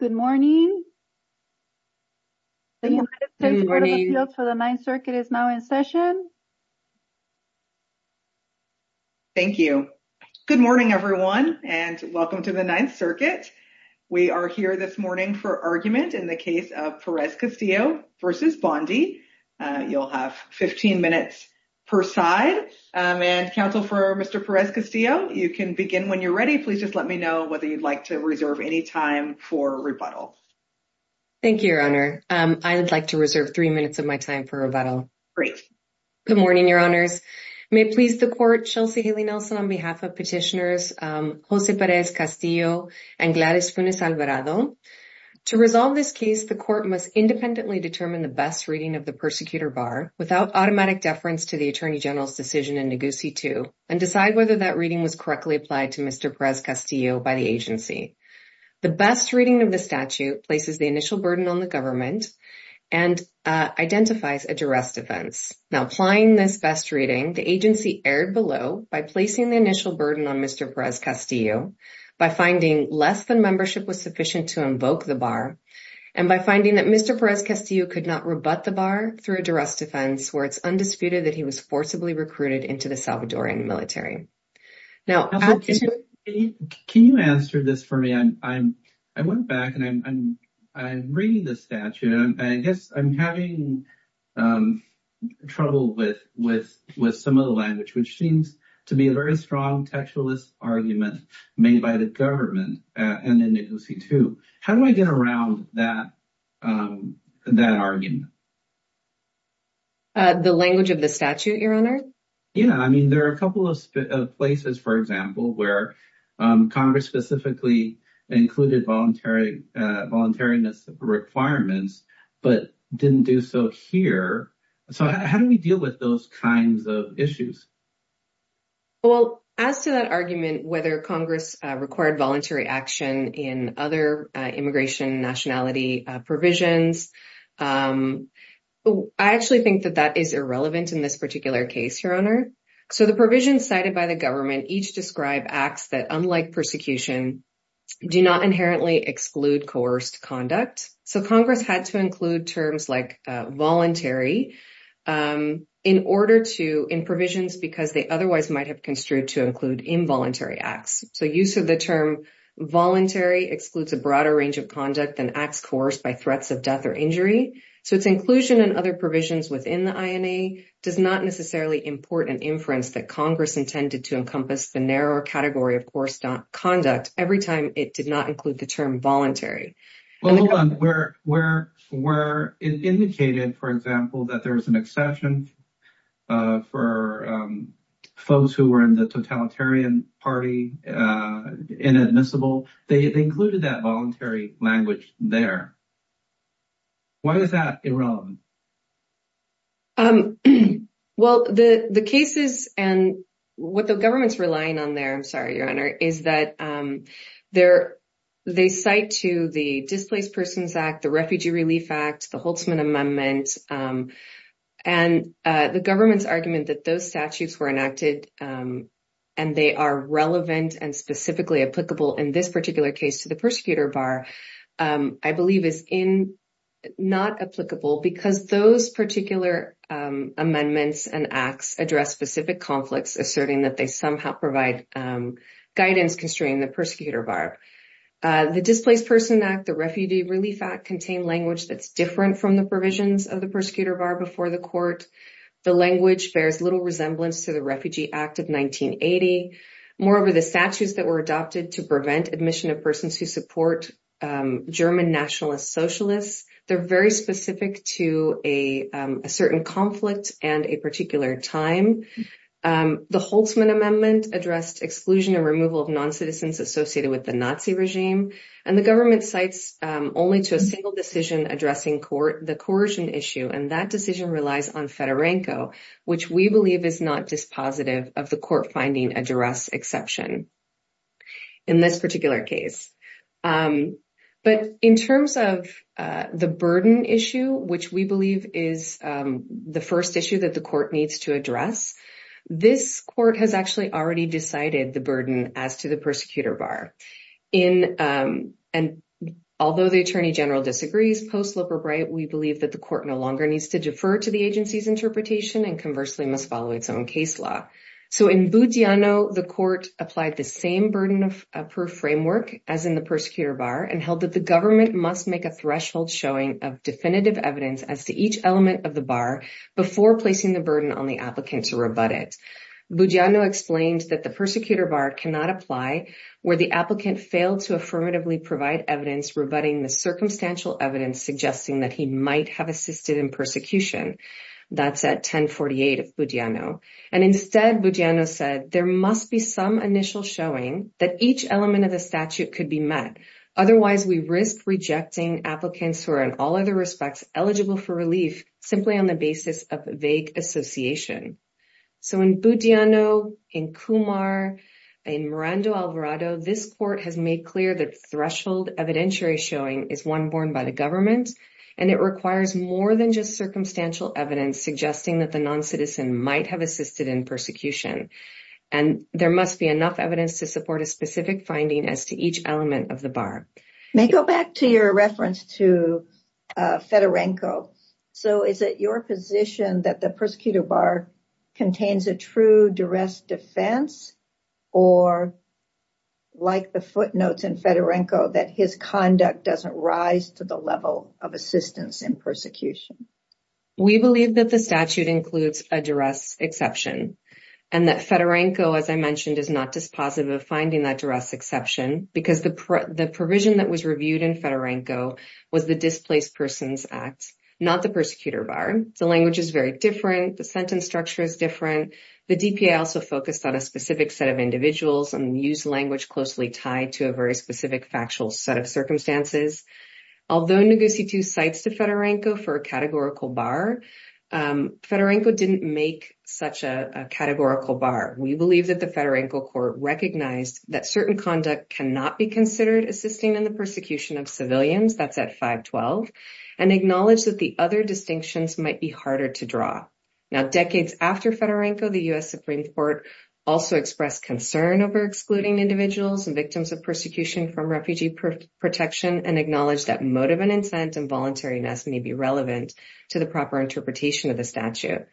Good morning. The United States Court of Appeals for the Ninth Circuit is now in session. Thank you. Good morning everyone and welcome to the Ninth Circuit. We are here this morning for argument in the case of Perez-Castillo v. Bondi. You'll have 15 minutes per side and counsel for Mr. Perez-Castillo you can begin when you're ready. Please just let me know whether you'd like to reserve any time for rebuttal. Thank you your honor. I would like to reserve three minutes of my time for rebuttal. Great. Good morning your honors. May it please the court Chelsea Haley Nelson on behalf of petitioners Jose Perez-Castillo and Gladys Funes Alvarado. To resolve this case the court must independently determine the best reading of the persecutor bar without automatic deference to the attorney general's decision in Negussie 2 and decide whether that reading was applied to Mr. Perez-Castillo by the agency. The best reading of the statute places the initial burden on the government and identifies a duress defense. Now applying this best reading the agency erred below by placing the initial burden on Mr. Perez-Castillo by finding less than membership was sufficient to invoke the bar and by finding that Mr. Perez-Castillo could not rebut the bar through a duress defense where it's undisputed that he was forcibly recruited into the Salvadoran military. Now can you answer this for me? I went back and I'm reading the statute and I guess I'm having trouble with some of the language which seems to be a very strong textualist argument made by the government and in Negussie 2. How do I get around that argument? The language of the statute, your honor? Yeah, I mean there are a couple of places, for example, where Congress specifically included voluntary voluntariness requirements but didn't do so here. So how do we deal with those kinds of issues? Well, as to that argument whether Congress required voluntary action in other immigration nationality provisions, I actually think that that is irrelevant in this particular case, your honor. So the provisions cited by the government each describe acts that, unlike persecution, do not inherently exclude coerced conduct. So Congress had to include terms like voluntary in order to, in provisions because they otherwise might have construed to include involuntary acts. So use of the term voluntary excludes a broader range of conduct than acts coerced by threats of death or injury. So its inclusion and other provisions within the INA does not necessarily import an inference that Congress intended to encompass the narrower category of coerced conduct every time it did not include the term voluntary. Well, hold on. Where it indicated, for example, that there was exception for folks who were in the totalitarian party inadmissible, they included that voluntary language there. Why is that irrelevant? Well, the cases and what the government's relying on there, I'm sorry, your honor, is that they cite to the Displaced Persons Act, the Refugee Relief Act, the Holtzman Amendment, and the government's argument that those statutes were enacted and they are relevant and specifically applicable in this particular case to the persecutor bar, I believe is not applicable because those particular amendments and acts address specific conflicts asserting that they somehow provide guidance constraining the persecutor bar. The Displaced Persons Act, the Refugee Relief Act contain language that's different from the provisions of the persecutor bar before the court. The language bears little resemblance to the Refugee Act of 1980. Moreover, the statutes that were adopted to prevent admission of persons who support German nationalist socialists, they're very specific to a certain conflict and a particular time. The Holtzman Amendment addressed exclusion and removal of non-citizens associated with the Nazi regime and the government cites only to a single decision addressing the coercion issue and that decision relies on Fedorenko, which we believe is not dispositive of the court finding a duress exception in this particular case. But in terms of the burden issue, which we believe is the first issue that the court needs to address, this court has actually already decided the burden as to the persecutor bar. And although the Attorney General disagrees, post-Lippert Breit, we believe that the court no longer needs to defer to the agency's interpretation and conversely must follow its own case law. So in Budiano, the court applied the same burden of proof framework as in the persecutor bar and held that the government must make a threshold showing of definitive evidence as to each element of the bar before placing the burden on the applicant to rebut it. Budiano explained that the persecutor bar cannot apply where the applicant failed to affirmatively provide evidence rebutting the circumstantial evidence suggesting that he might have assisted in persecution. That's at 1048 of Budiano. And instead, Budiano said there must be some initial showing that each element of the statute could be met. Otherwise, we risk rejecting applicants who are in all other respects eligible for relief simply on the basis of vague association. So in Budiano, in Kumar, in Miranda Alvarado, this court has made clear that threshold evidentiary showing is one borne by the government and it requires more than just circumstantial evidence suggesting that the non-citizen might have assisted in persecution. And there must be enough evidence to support a specific finding as to each element of the bar. May I go back to your reference to Fedorenko. So is it your position that the persecutor bar contains a true duress defense or like the footnotes in Fedorenko that his conduct doesn't rise to the level of assistance in persecution? We believe that the statute includes a duress exception and that Fedorenko, as I mentioned, is not dispositive of finding that duress exception because the provision that was reviewed in Fedorenko was the Displaced Persons Act, not the persecutor bar. The language is very different. The sentence structure is different. The DPA also focused on a specific set of individuals and used language closely tied to a very specific factual set of circumstances. Although Nogucitu cites to Fedorenko for a categorical bar, Fedorenko didn't make such a categorical bar. We believe that the Fedorenko court recognized that certain conduct cannot be assisted in the persecution of civilians, that's at 512, and acknowledged that the other distinctions might be harder to draw. Now decades after Fedorenko, the U.S. Supreme Court also expressed concern over excluding individuals and victims of persecution from refugee protection and acknowledged that motive and incentive and voluntariness may be relevant to the proper interpretation of the statute.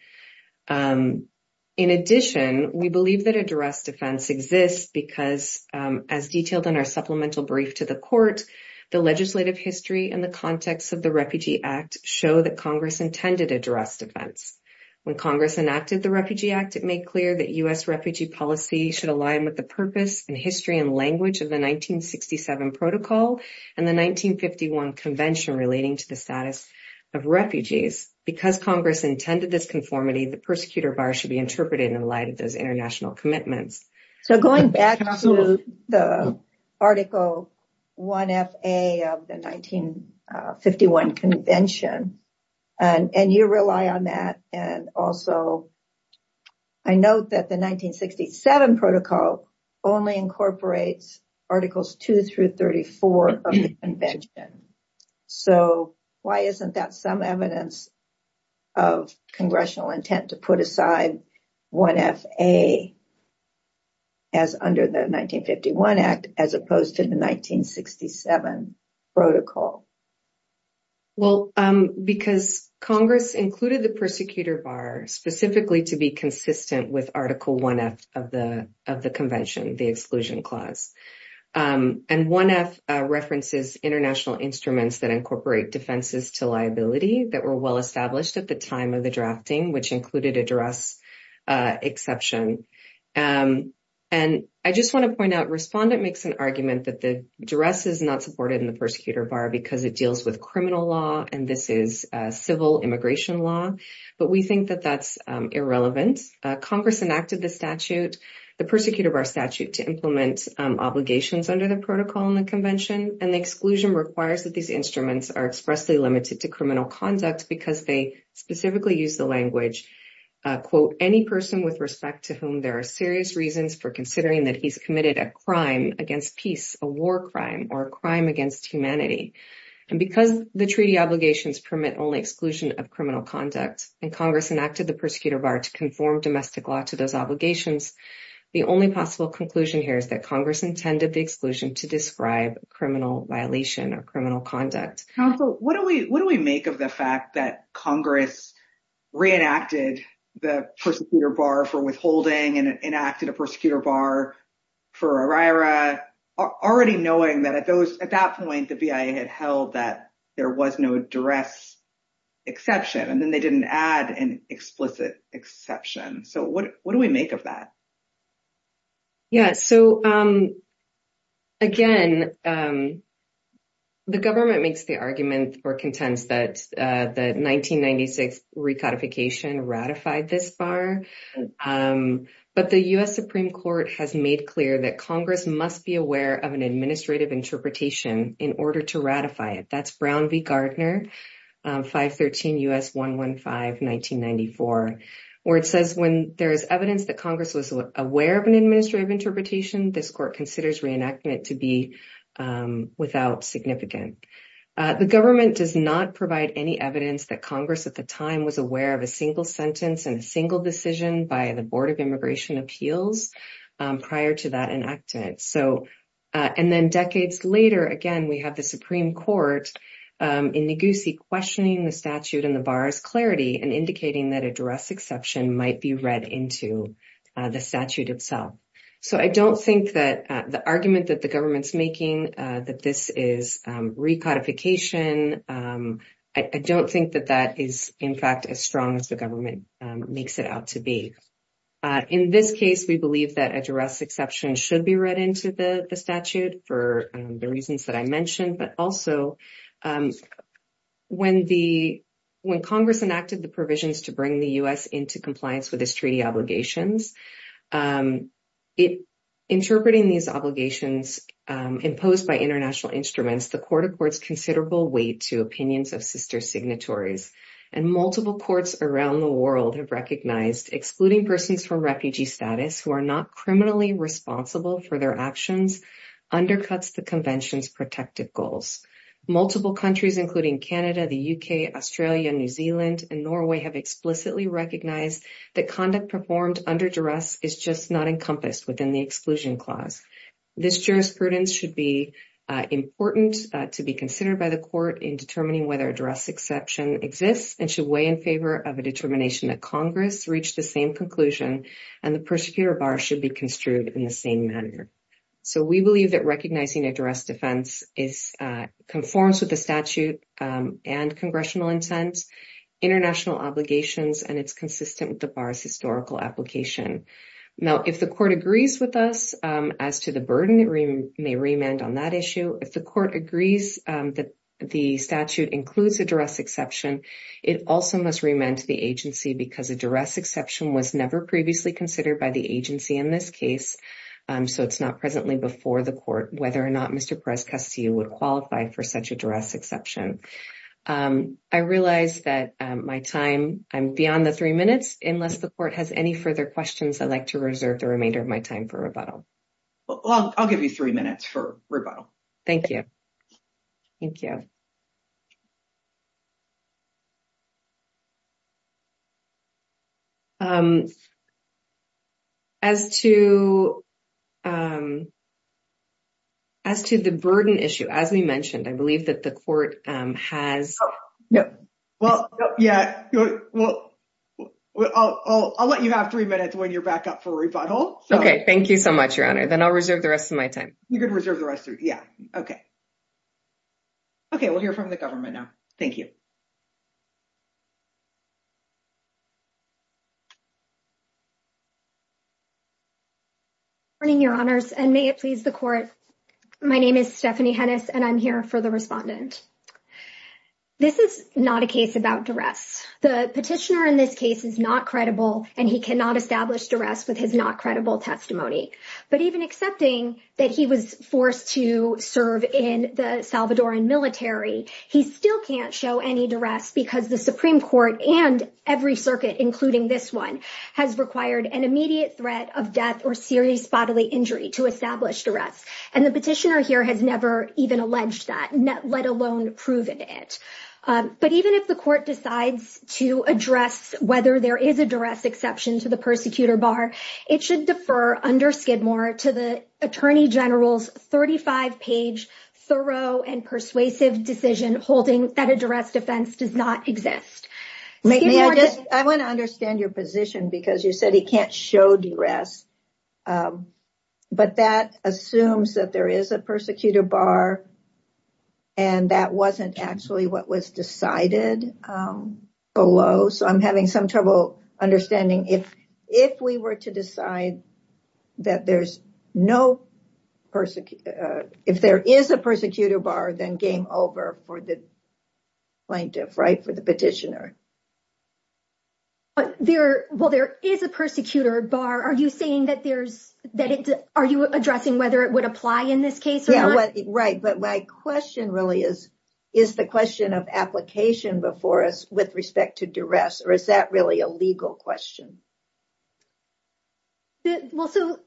In addition, we believe that a duress defense exists because as detailed in our supplemental brief to the court, the legislative history and the context of the Refugee Act show that Congress intended a duress defense. When Congress enacted the Refugee Act, it made clear that U.S. refugee policy should align with the purpose and history and language of the 1967 Protocol and the 1951 Convention relating to the status of refugees. Because Congress intended this conformity, the persecutor bar should be interpreted in light of those commitments. So going back to the Article 1FA of the 1951 Convention and you rely on that and also I note that the 1967 Protocol only incorporates Articles 2 through 34 of the Convention. So why isn't that some evidence of Congressional intent to put aside 1FA as under the 1951 Act as opposed to the 1967 Protocol? Well because Congress included the persecutor bar specifically to be consistent with Article 1F of the of the Convention, the Exclusion Clause. And 1F references international instruments that incorporate defenses to liability that were well established at the time of the drafting which included a duress exception. And I just want to point out Respondent makes an argument that the duress is not supported in the persecutor bar because it deals with criminal law and this is civil immigration law, but we think that that's irrelevant. Congress enacted the statute, the persecutor bar statute, to implement obligations under the Protocol and the Convention and the exclusion requires that these instruments are expressly limited to criminal conduct because they specifically use the language, quote, any person with respect to whom there are serious reasons for considering that he's committed a crime against peace, a war crime, or a crime against humanity. And because the treaty obligations permit only exclusion of criminal conduct and Congress enacted the persecutor bar to conform domestic law to those obligations, the only possible conclusion here is that Congress intended the exclusion to describe criminal violation or criminal conduct. Council, what do we what do we make of the fact that Congress reenacted the persecutor bar for withholding and enacted a persecutor bar for OIRA already knowing that at that point the BIA had held that there was no duress exception and then they didn't add an explicit exception. So, what do we make of that? Yeah, so again, the government makes the argument or contends that the 1996 recodification ratified this bar, but the U.S. Supreme Court has made clear that Congress must be aware of an administrative interpretation in order to ratify it. That's Brown v Gardner, 513 U.S. 115 1994, where it says when there is evidence that Congress was aware of an administrative interpretation, this court considers reenactment to be without significance. The government does not provide any evidence that Congress at the time was aware of a single sentence and a single decision by the Board of Immigration Appeals prior to that enacted. So, and then decades later, again, we have the Supreme Court in Negussie questioning the statute and the bar's clarity and indicating that a duress exception might be read into the statute itself. So, I don't think that the argument that the government's making that this is recodification, I don't think that that is, in fact, as strong as the government makes it out to be. In this case, we believe that a duress exception should be read into the statute for the reasons that I mentioned, but also when Congress enacted the provisions to bring the U.S. into compliance with its treaty obligations, interpreting these obligations imposed by international instruments, the court accords considerable weight to opinions of sister signatories, and multiple courts around the world have recognized excluding persons from refugee status who are not criminally responsible for their actions undercuts the Convention's protective goals. Multiple countries, including Canada, the U.K., Australia, New Zealand, and Norway have explicitly recognized that conduct performed under duress is just not encompassed within the Exclusion Clause. This jurisprudence should be important to be considered by the court in determining whether a duress exception exists and should weigh in favor of a determination that Congress reached the same conclusion and the prosecutor bar should be construed in the same manner. So, we believe that recognizing a duress defense conforms with the statute and congressional intent, international obligations, and it's historical application. Now, if the court agrees with us as to the burden, it may remand on that issue. If the court agrees that the statute includes a duress exception, it also must remand to the agency because a duress exception was never previously considered by the agency in this case. So, it's not presently before the court whether or not Mr. Perez-Castillo would qualify for such a duress exception. I realize that my time, I'm beyond the three minutes. Unless the court has any further questions, I'd like to reserve the remainder of my time for rebuttal. Well, I'll give you three minutes for rebuttal. Thank you. Thank you. As to the burden issue, as we mentioned, I believe that the court has... No. Well, yeah. Well, I'll let you have three minutes when you're back up for rebuttal. Okay. Thank you so much, Your Honor. Then I'll reserve the rest of my time. You're going to reserve the rest of your... Yeah. Okay. Okay. We'll hear from the government now. Thank you. Good morning, Your Honors, and may it please the court. My name is Stephanie Hennis, and I'm here for the respondent. This is not a case about duress. The petitioner in this case is not credible, and he cannot establish duress with his not credible testimony. But even accepting that he was forced to serve in the Salvadoran military, he still can't show any duress because the Supreme Court and every circuit, including this one, has required an immediate threat of death or serious bodily injury to establish duress. And the petitioner here has never even alleged that, let alone proven it. But even if the court decides to address whether there is a exception to the persecutor bar, it should defer under Skidmore to the attorney general's 35-page thorough and persuasive decision holding that a duress defense does not exist. I want to understand your position because you said he can't show duress. But that assumes that there is a persecutor bar, and that wasn't actually what was decided below. So I'm having some trouble understanding if we were to decide that there's no persecutor, if there is a persecutor bar, then game over for the plaintiff, right, for the petitioner. But there, well, there is a persecutor bar. Are you saying that there's, that it, are you addressing whether it would apply in this case? Yeah, right. But my question really is, is the question of application before us with respect to duress, or is that really a legal question? Well, so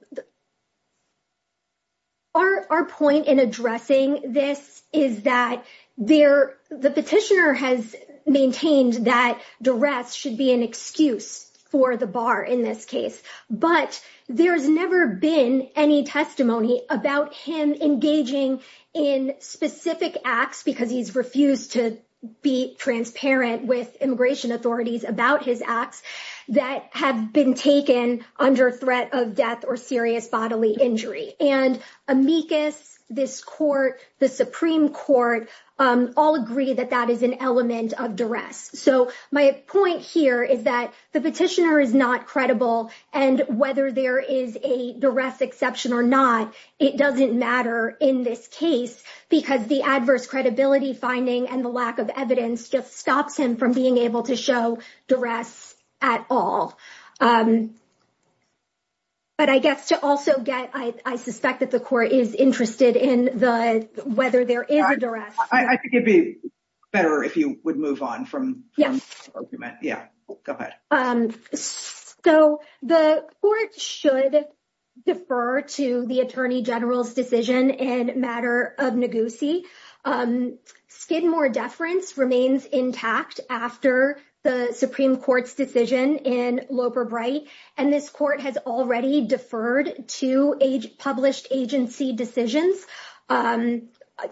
our point in addressing this is that there, the petitioner has maintained that duress should be an excuse for the bar in this case. But there's never been any testimony about him engaging in specific acts, because he's refused to be transparent with immigration authorities about his acts, that have been taken under threat of death or serious bodily injury. And amicus, this court, the Supreme Court, all agree that that is an element of duress. So my point here is that the petitioner is not credible, and whether there is a duress exception or not, it doesn't matter in this case, because the adverse credibility finding and the lack of evidence just stops him from being able to show duress at all. But I guess to also get, I suspect that the court is interested in the, whether there is a duress. I think it'd be better if you move on from the argument. Yeah, go ahead. So the court should defer to the Attorney General's decision in matter of negusie. Skidmore deference remains intact after the Supreme Court's decision in Loper-Bright, and this court has already deferred to a published agency decisions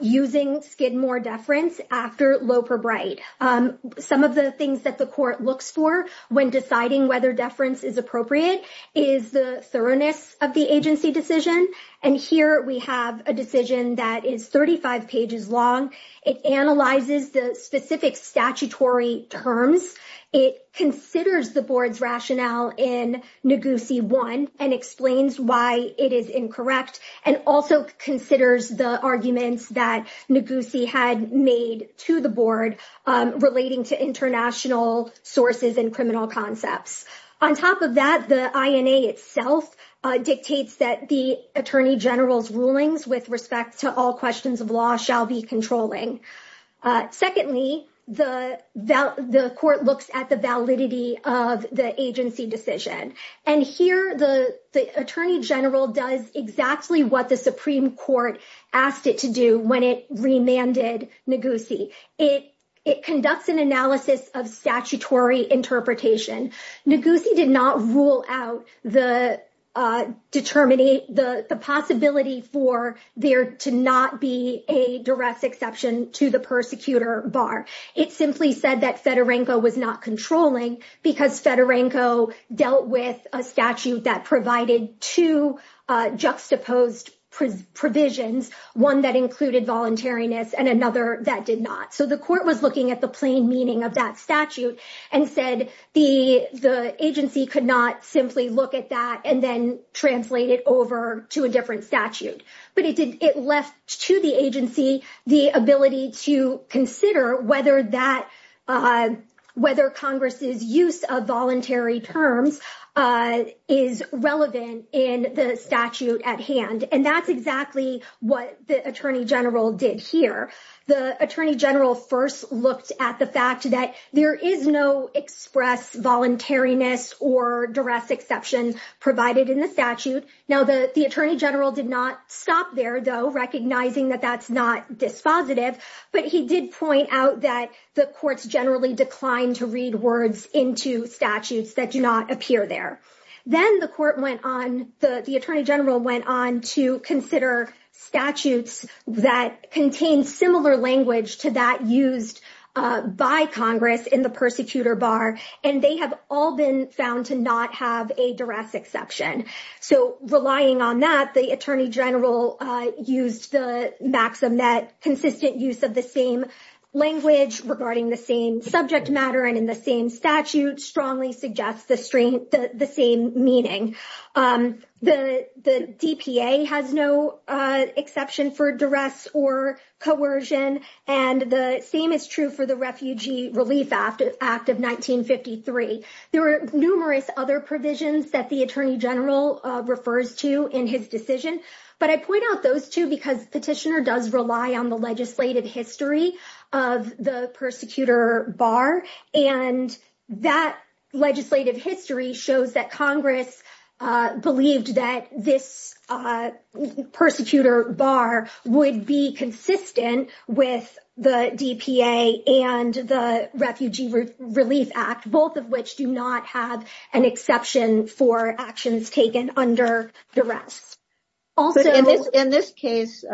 using Skidmore deference after Loper-Bright. Some of the things that the court looks for when deciding whether deference is appropriate is the thoroughness of the agency decision. And here we have a decision that is 35 pages long. It analyzes the specific statutory terms. It considers the board's rationale in negusie one and explains why it is incorrect, and also considers the arguments that negusie had made to the board relating to international sources and criminal concepts. On top of that, the INA itself dictates that the Attorney General's rulings with respect to all questions of law shall be controlling. Secondly, the court looks at the validity of the agency decision. And here the Attorney General does exactly what the Supreme Court asked it to do when it remanded negusie. It conducts an analysis of statutory interpretation. Negusie did not rule out the possibility for there to not be a duress exception to the persecutor bar. It simply said that Fedorenko was not controlling because Fedorenko dealt with a statute that provided two juxtaposed provisions, one that included voluntariness and another that did not. So the court was looking at the plain meaning of that statute and said the agency could not simply look at that and then translate it over to a different statute. But it left to the agency the ability to consider whether Congress's use of voluntary terms is relevant in the statute at hand. And that's exactly what the Attorney General did here. The Attorney General first looked at the fact that there is no express voluntariness or duress exception provided in the statute. Now, the Attorney General did not stop there, though, recognizing that that's not dispositive. But he did point out that the courts generally declined to read words into statutes that do not appear there. Then the court went on, the Attorney General went on to consider statutes that contain similar language to that used by Congress in the persecutor bar, and they have all been found to not have a duress exception. So relying on that, the Attorney General used the maxim that consistent use of the same language regarding the same subject matter and the same statute strongly suggests the same meaning. The DPA has no exception for duress or coercion, and the same is true for the Refugee Relief Act of 1953. There are numerous other provisions that the Attorney General refers to in his decision, but I point out those two because Petitioner does rely on the legislative history of the persecutor bar, and that legislative history shows that Congress believed that this persecutor bar would be consistent with the DPA and the Refugee Relief Act, both of which do not have an exception for actions taken under duress. Also, in this case,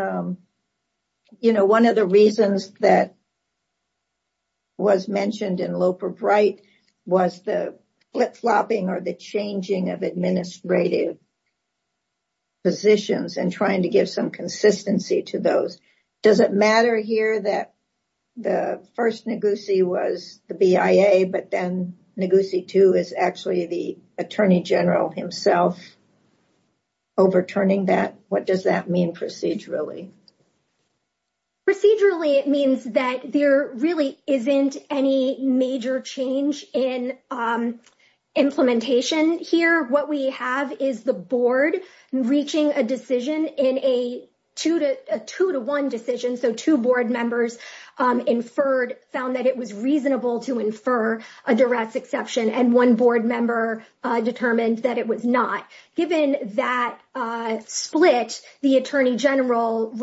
you know, one of the reasons that was mentioned in Loper-Bright was the flip-flopping or the changing of administrative positions and trying to give some consistency to those. Does it matter here that the first Ngozi was the BIA, but then Ngozi Tu is actually the Attorney General himself overturning that? What does that mean procedurally? Procedurally, it means that there really isn't any major change in implementation here. What we have is the board reaching a decision in a two-to-one decision, so two board members inferred, found that it was reasonable to infer a duress exception, and one board member determined that it was not. Given that split, the Attorney General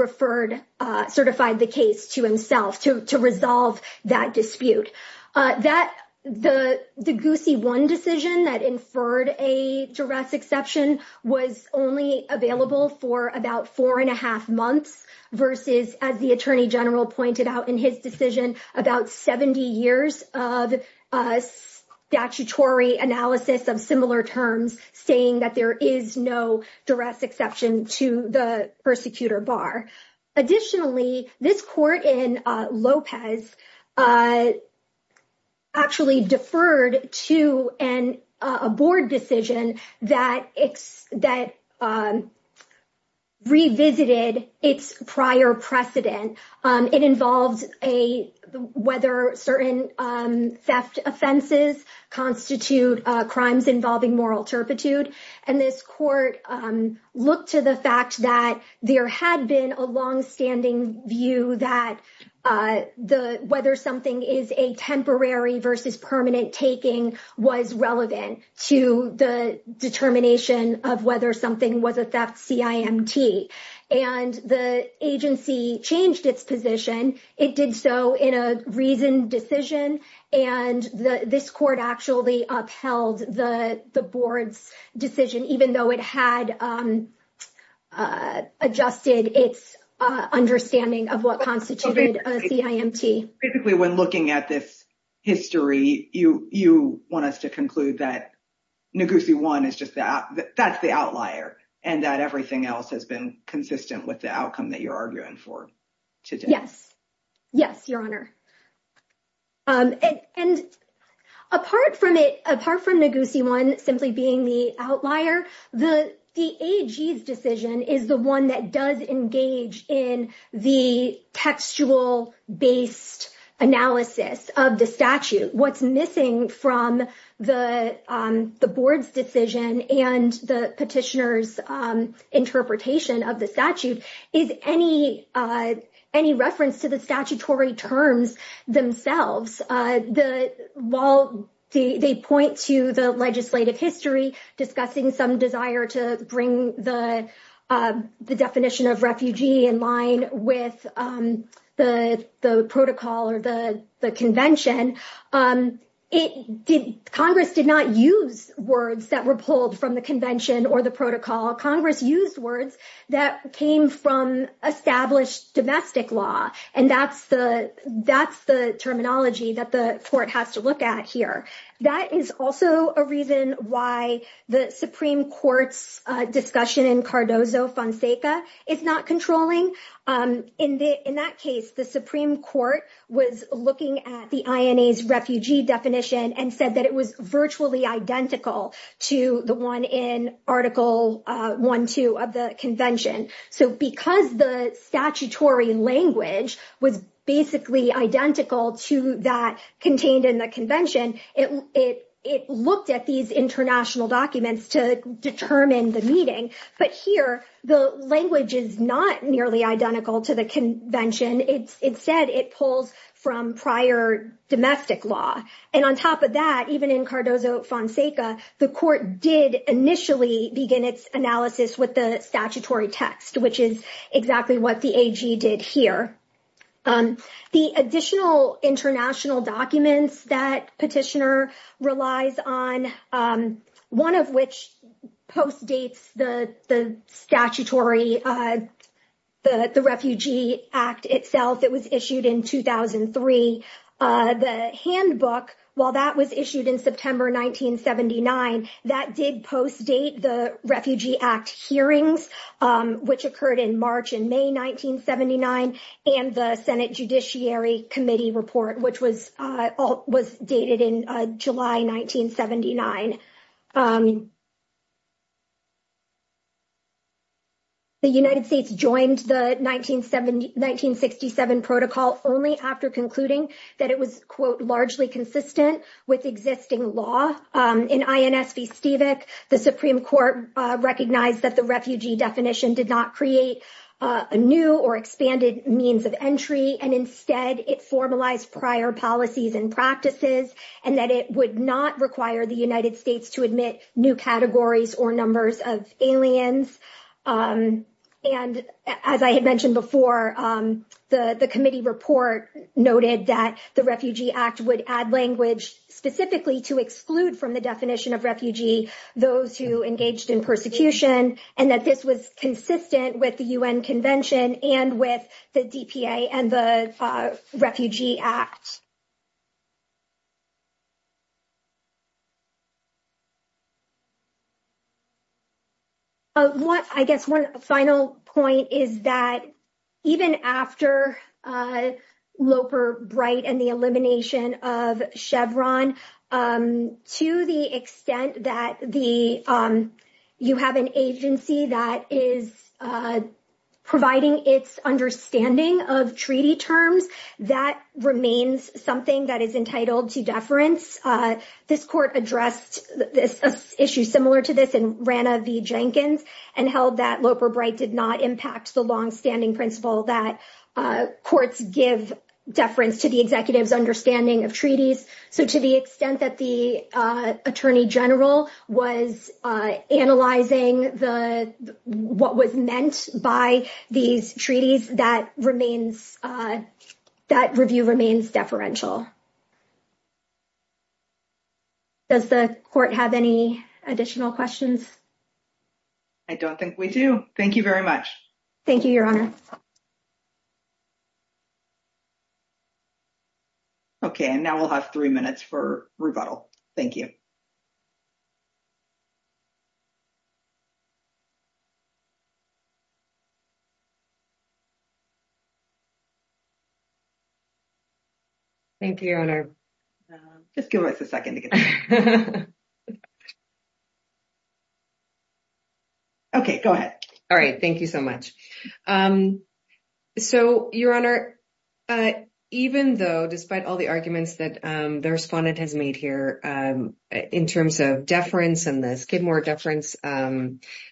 certified the case to himself to resolve that dispute. The Ngozi 1 decision that inferred a duress exception was only available for about four and a half months versus, as the Attorney General pointed out in his decision, about 70 years of statutory analysis of similar terms saying that there is no duress exception to the persecutor bar. Additionally, this court in Lopez actually deferred to a board decision that revisited its prior precedent. It involved whether certain theft offenses constitute crimes involving moral turpitude. This court looked to the fact that there had been a long-standing view that whether something is a temporary versus permanent taking was relevant to the determination of whether something was a theft CIMT, and the agency changed its position. It did so in a reasoned decision, and this court actually upheld the board's decision even though it had adjusted its understanding of what constituted a CIMT. Basically, when looking at this history, you want us to conclude that Ngozi 1, that's the outlier, and that everything else has been consistent with the outcome that you're arguing for today? Yes. Yes, Your Honor. Apart from Ngozi 1 simply being the outlier, the AG's decision is the one that does engage in the textual-based analysis of the statute. What's missing from the board's decision and the petitioner's interpretation of the statute is any reference to the statutory terms themselves. While they point to the legislative history discussing some desire to bring the definition of refugee in line with the protocol or the convention, Congress did not use words that were pulled from the convention or the protocol. Congress used words that came from established domestic law, and that's the terminology that the Supreme Court has to look at here. That is also a reason why the Supreme Court's discussion in Cardozo-Fonseca is not controlling. In that case, the Supreme Court was looking at the INA's refugee definition and said that it was virtually identical to the one in Article 1.2 of the convention. It looked at these international documents to determine the meaning, but here the language is not nearly identical to the convention. Instead, it pulls from prior domestic law. On top of that, even in Cardozo-Fonseca, the court did initially begin its analysis with the statutory text, which is exactly what the AG did here. The additional international documents that Petitioner relies on, one of which postdates the statutory, the Refugee Act itself. It was issued in 2003. The handbook, while that was issued in September 1979, that did postdate the Refugee Act hearings, which occurred in March and May 1979, and the Senate Judiciary Committee report, which was dated in July 1979. The United States joined the 1967 Protocol only after concluding that it was, quote, largely consistent with existing law. In INS V. Stevik, the Supreme Court recognized that the means of entry, and instead it formalized prior policies and practices, and that it would not require the United States to admit new categories or numbers of aliens. And as I had mentioned before, the committee report noted that the Refugee Act would add language specifically to exclude from the definition of refugee those who engaged in persecution, and that this was consistent with the U.N. Convention and with the DPA and the Refugee Act. I guess one final point is that even after Loper, Bright, and the elimination of Chevron, to the extent that you have an agency that is providing its understanding of treaty terms, that remains something that is entitled to deference. This court addressed this issue similar to this in Rana v. Jenkins, and held that Loper, Bright did not impact the longstanding principle that courts give deference to the executive's understanding of treaties. So, to the extent that the Attorney General was analyzing what was meant by these treaties, that review remains deferential. Does the court have any additional questions? I don't think we do. Thank you very much. Thank you, Your Honor. Okay, and now we'll have three minutes for rebuttal. Thank you. Thank you, Your Honor. Just give us a second. Okay, go ahead. All right. Thank you so much. So, Your Honor, even though despite all the arguments that the respondent has made here in terms of deference and the Skidmore deference,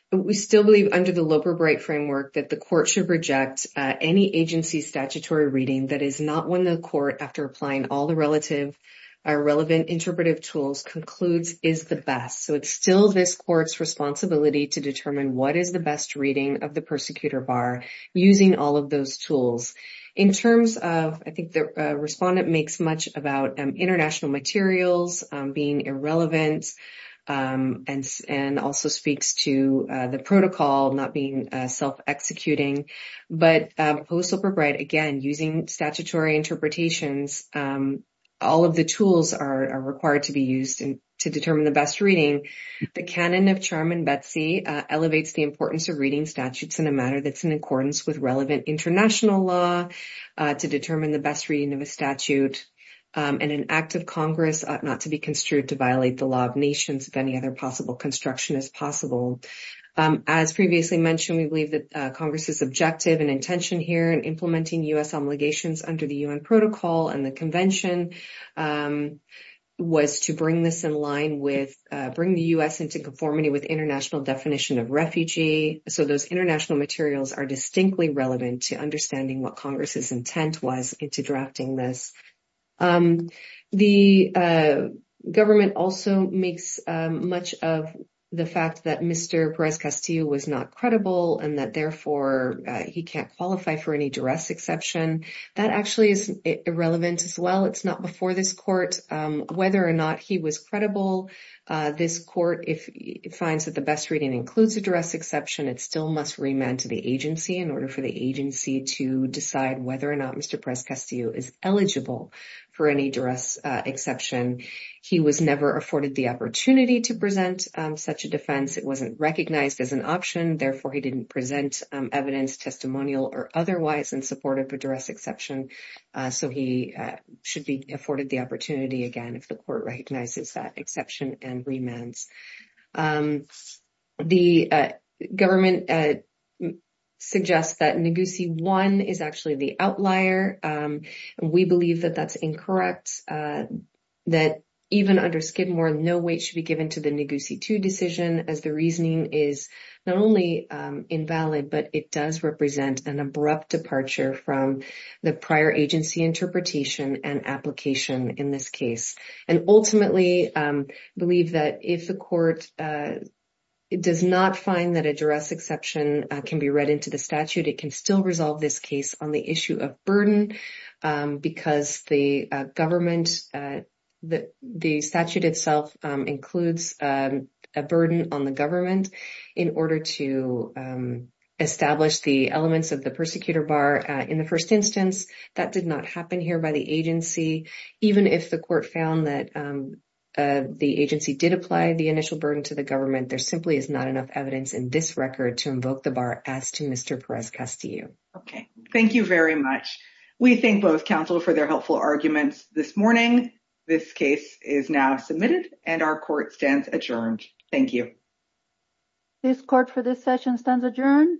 we still believe under the Loper, Bright framework that the court should reject any agency statutory reading that is not one of the court after applying all the relative or relevant interpretive tools concludes is the best. So, it's still this court's responsibility to determine what is the best reading of the persecutor bar using all of those tools. In terms of, I think the respondent makes much about international materials being irrelevant and also speaks to the protocol not being self-executing, but Post Loper, Bright, again, using statutory interpretations, all of the tools are required to be used to determine the best reading. The canon of Charm and Betsy elevates the importance of reading statutes in a manner that's in accordance with relevant international law to determine the best reading of a statute and an act of Congress ought not to be construed to violate the law of nations if any other possible construction is possible. As previously mentioned, we believe that Congress's objective and intention here in implementing U.S. obligations under the U.N. protocol and the convention was to bring the U.S. into conformity with international definition of refugee. So, those international materials are distinctly relevant to understanding what Congress's intent was into drafting this. The government also makes much of the fact that Mr. Perez-Castillo was not credible and that, therefore, he can't qualify for any duress exception. That actually is irrelevant as well. It's not before this court whether or not he was credible. This court, if it finds that the best reading includes a duress exception, it still must remand to the agency in order for the agency to decide whether or not Mr. Perez-Castillo is eligible for any duress exception. He was never afforded the opportunity to present such a defense. It wasn't recognized as an option. Therefore, he didn't present evidence testimonial or otherwise in support of a duress exception. So, he should be afforded the opportunity again if the court recognizes that exception and remands. The government suggests that Neguse 1 is actually the outlier. We believe that that's incorrect, that even under Skidmore, no weight should be placed on the reasoning. The reasoning is not only invalid, but it does represent an abrupt departure from the prior agency interpretation and application in this case. Ultimately, we believe that if the court does not find that a duress exception can be read into the statute, it can still resolve this case on the issue of burden because the government, the statute itself includes a burden on the government in order to establish the elements of the persecutor bar in the first instance. That did not happen here by the agency. Even if the court found that the agency did apply the initial burden to the government, there simply is not enough evidence in this record to invoke the bar as to Mr. Perez-Castillo. Okay, thank you very much. We thank both counsel for their helpful arguments this morning. This case is now submitted and our court stands adjourned. Thank you. This court for this session stands adjourned. Thank you.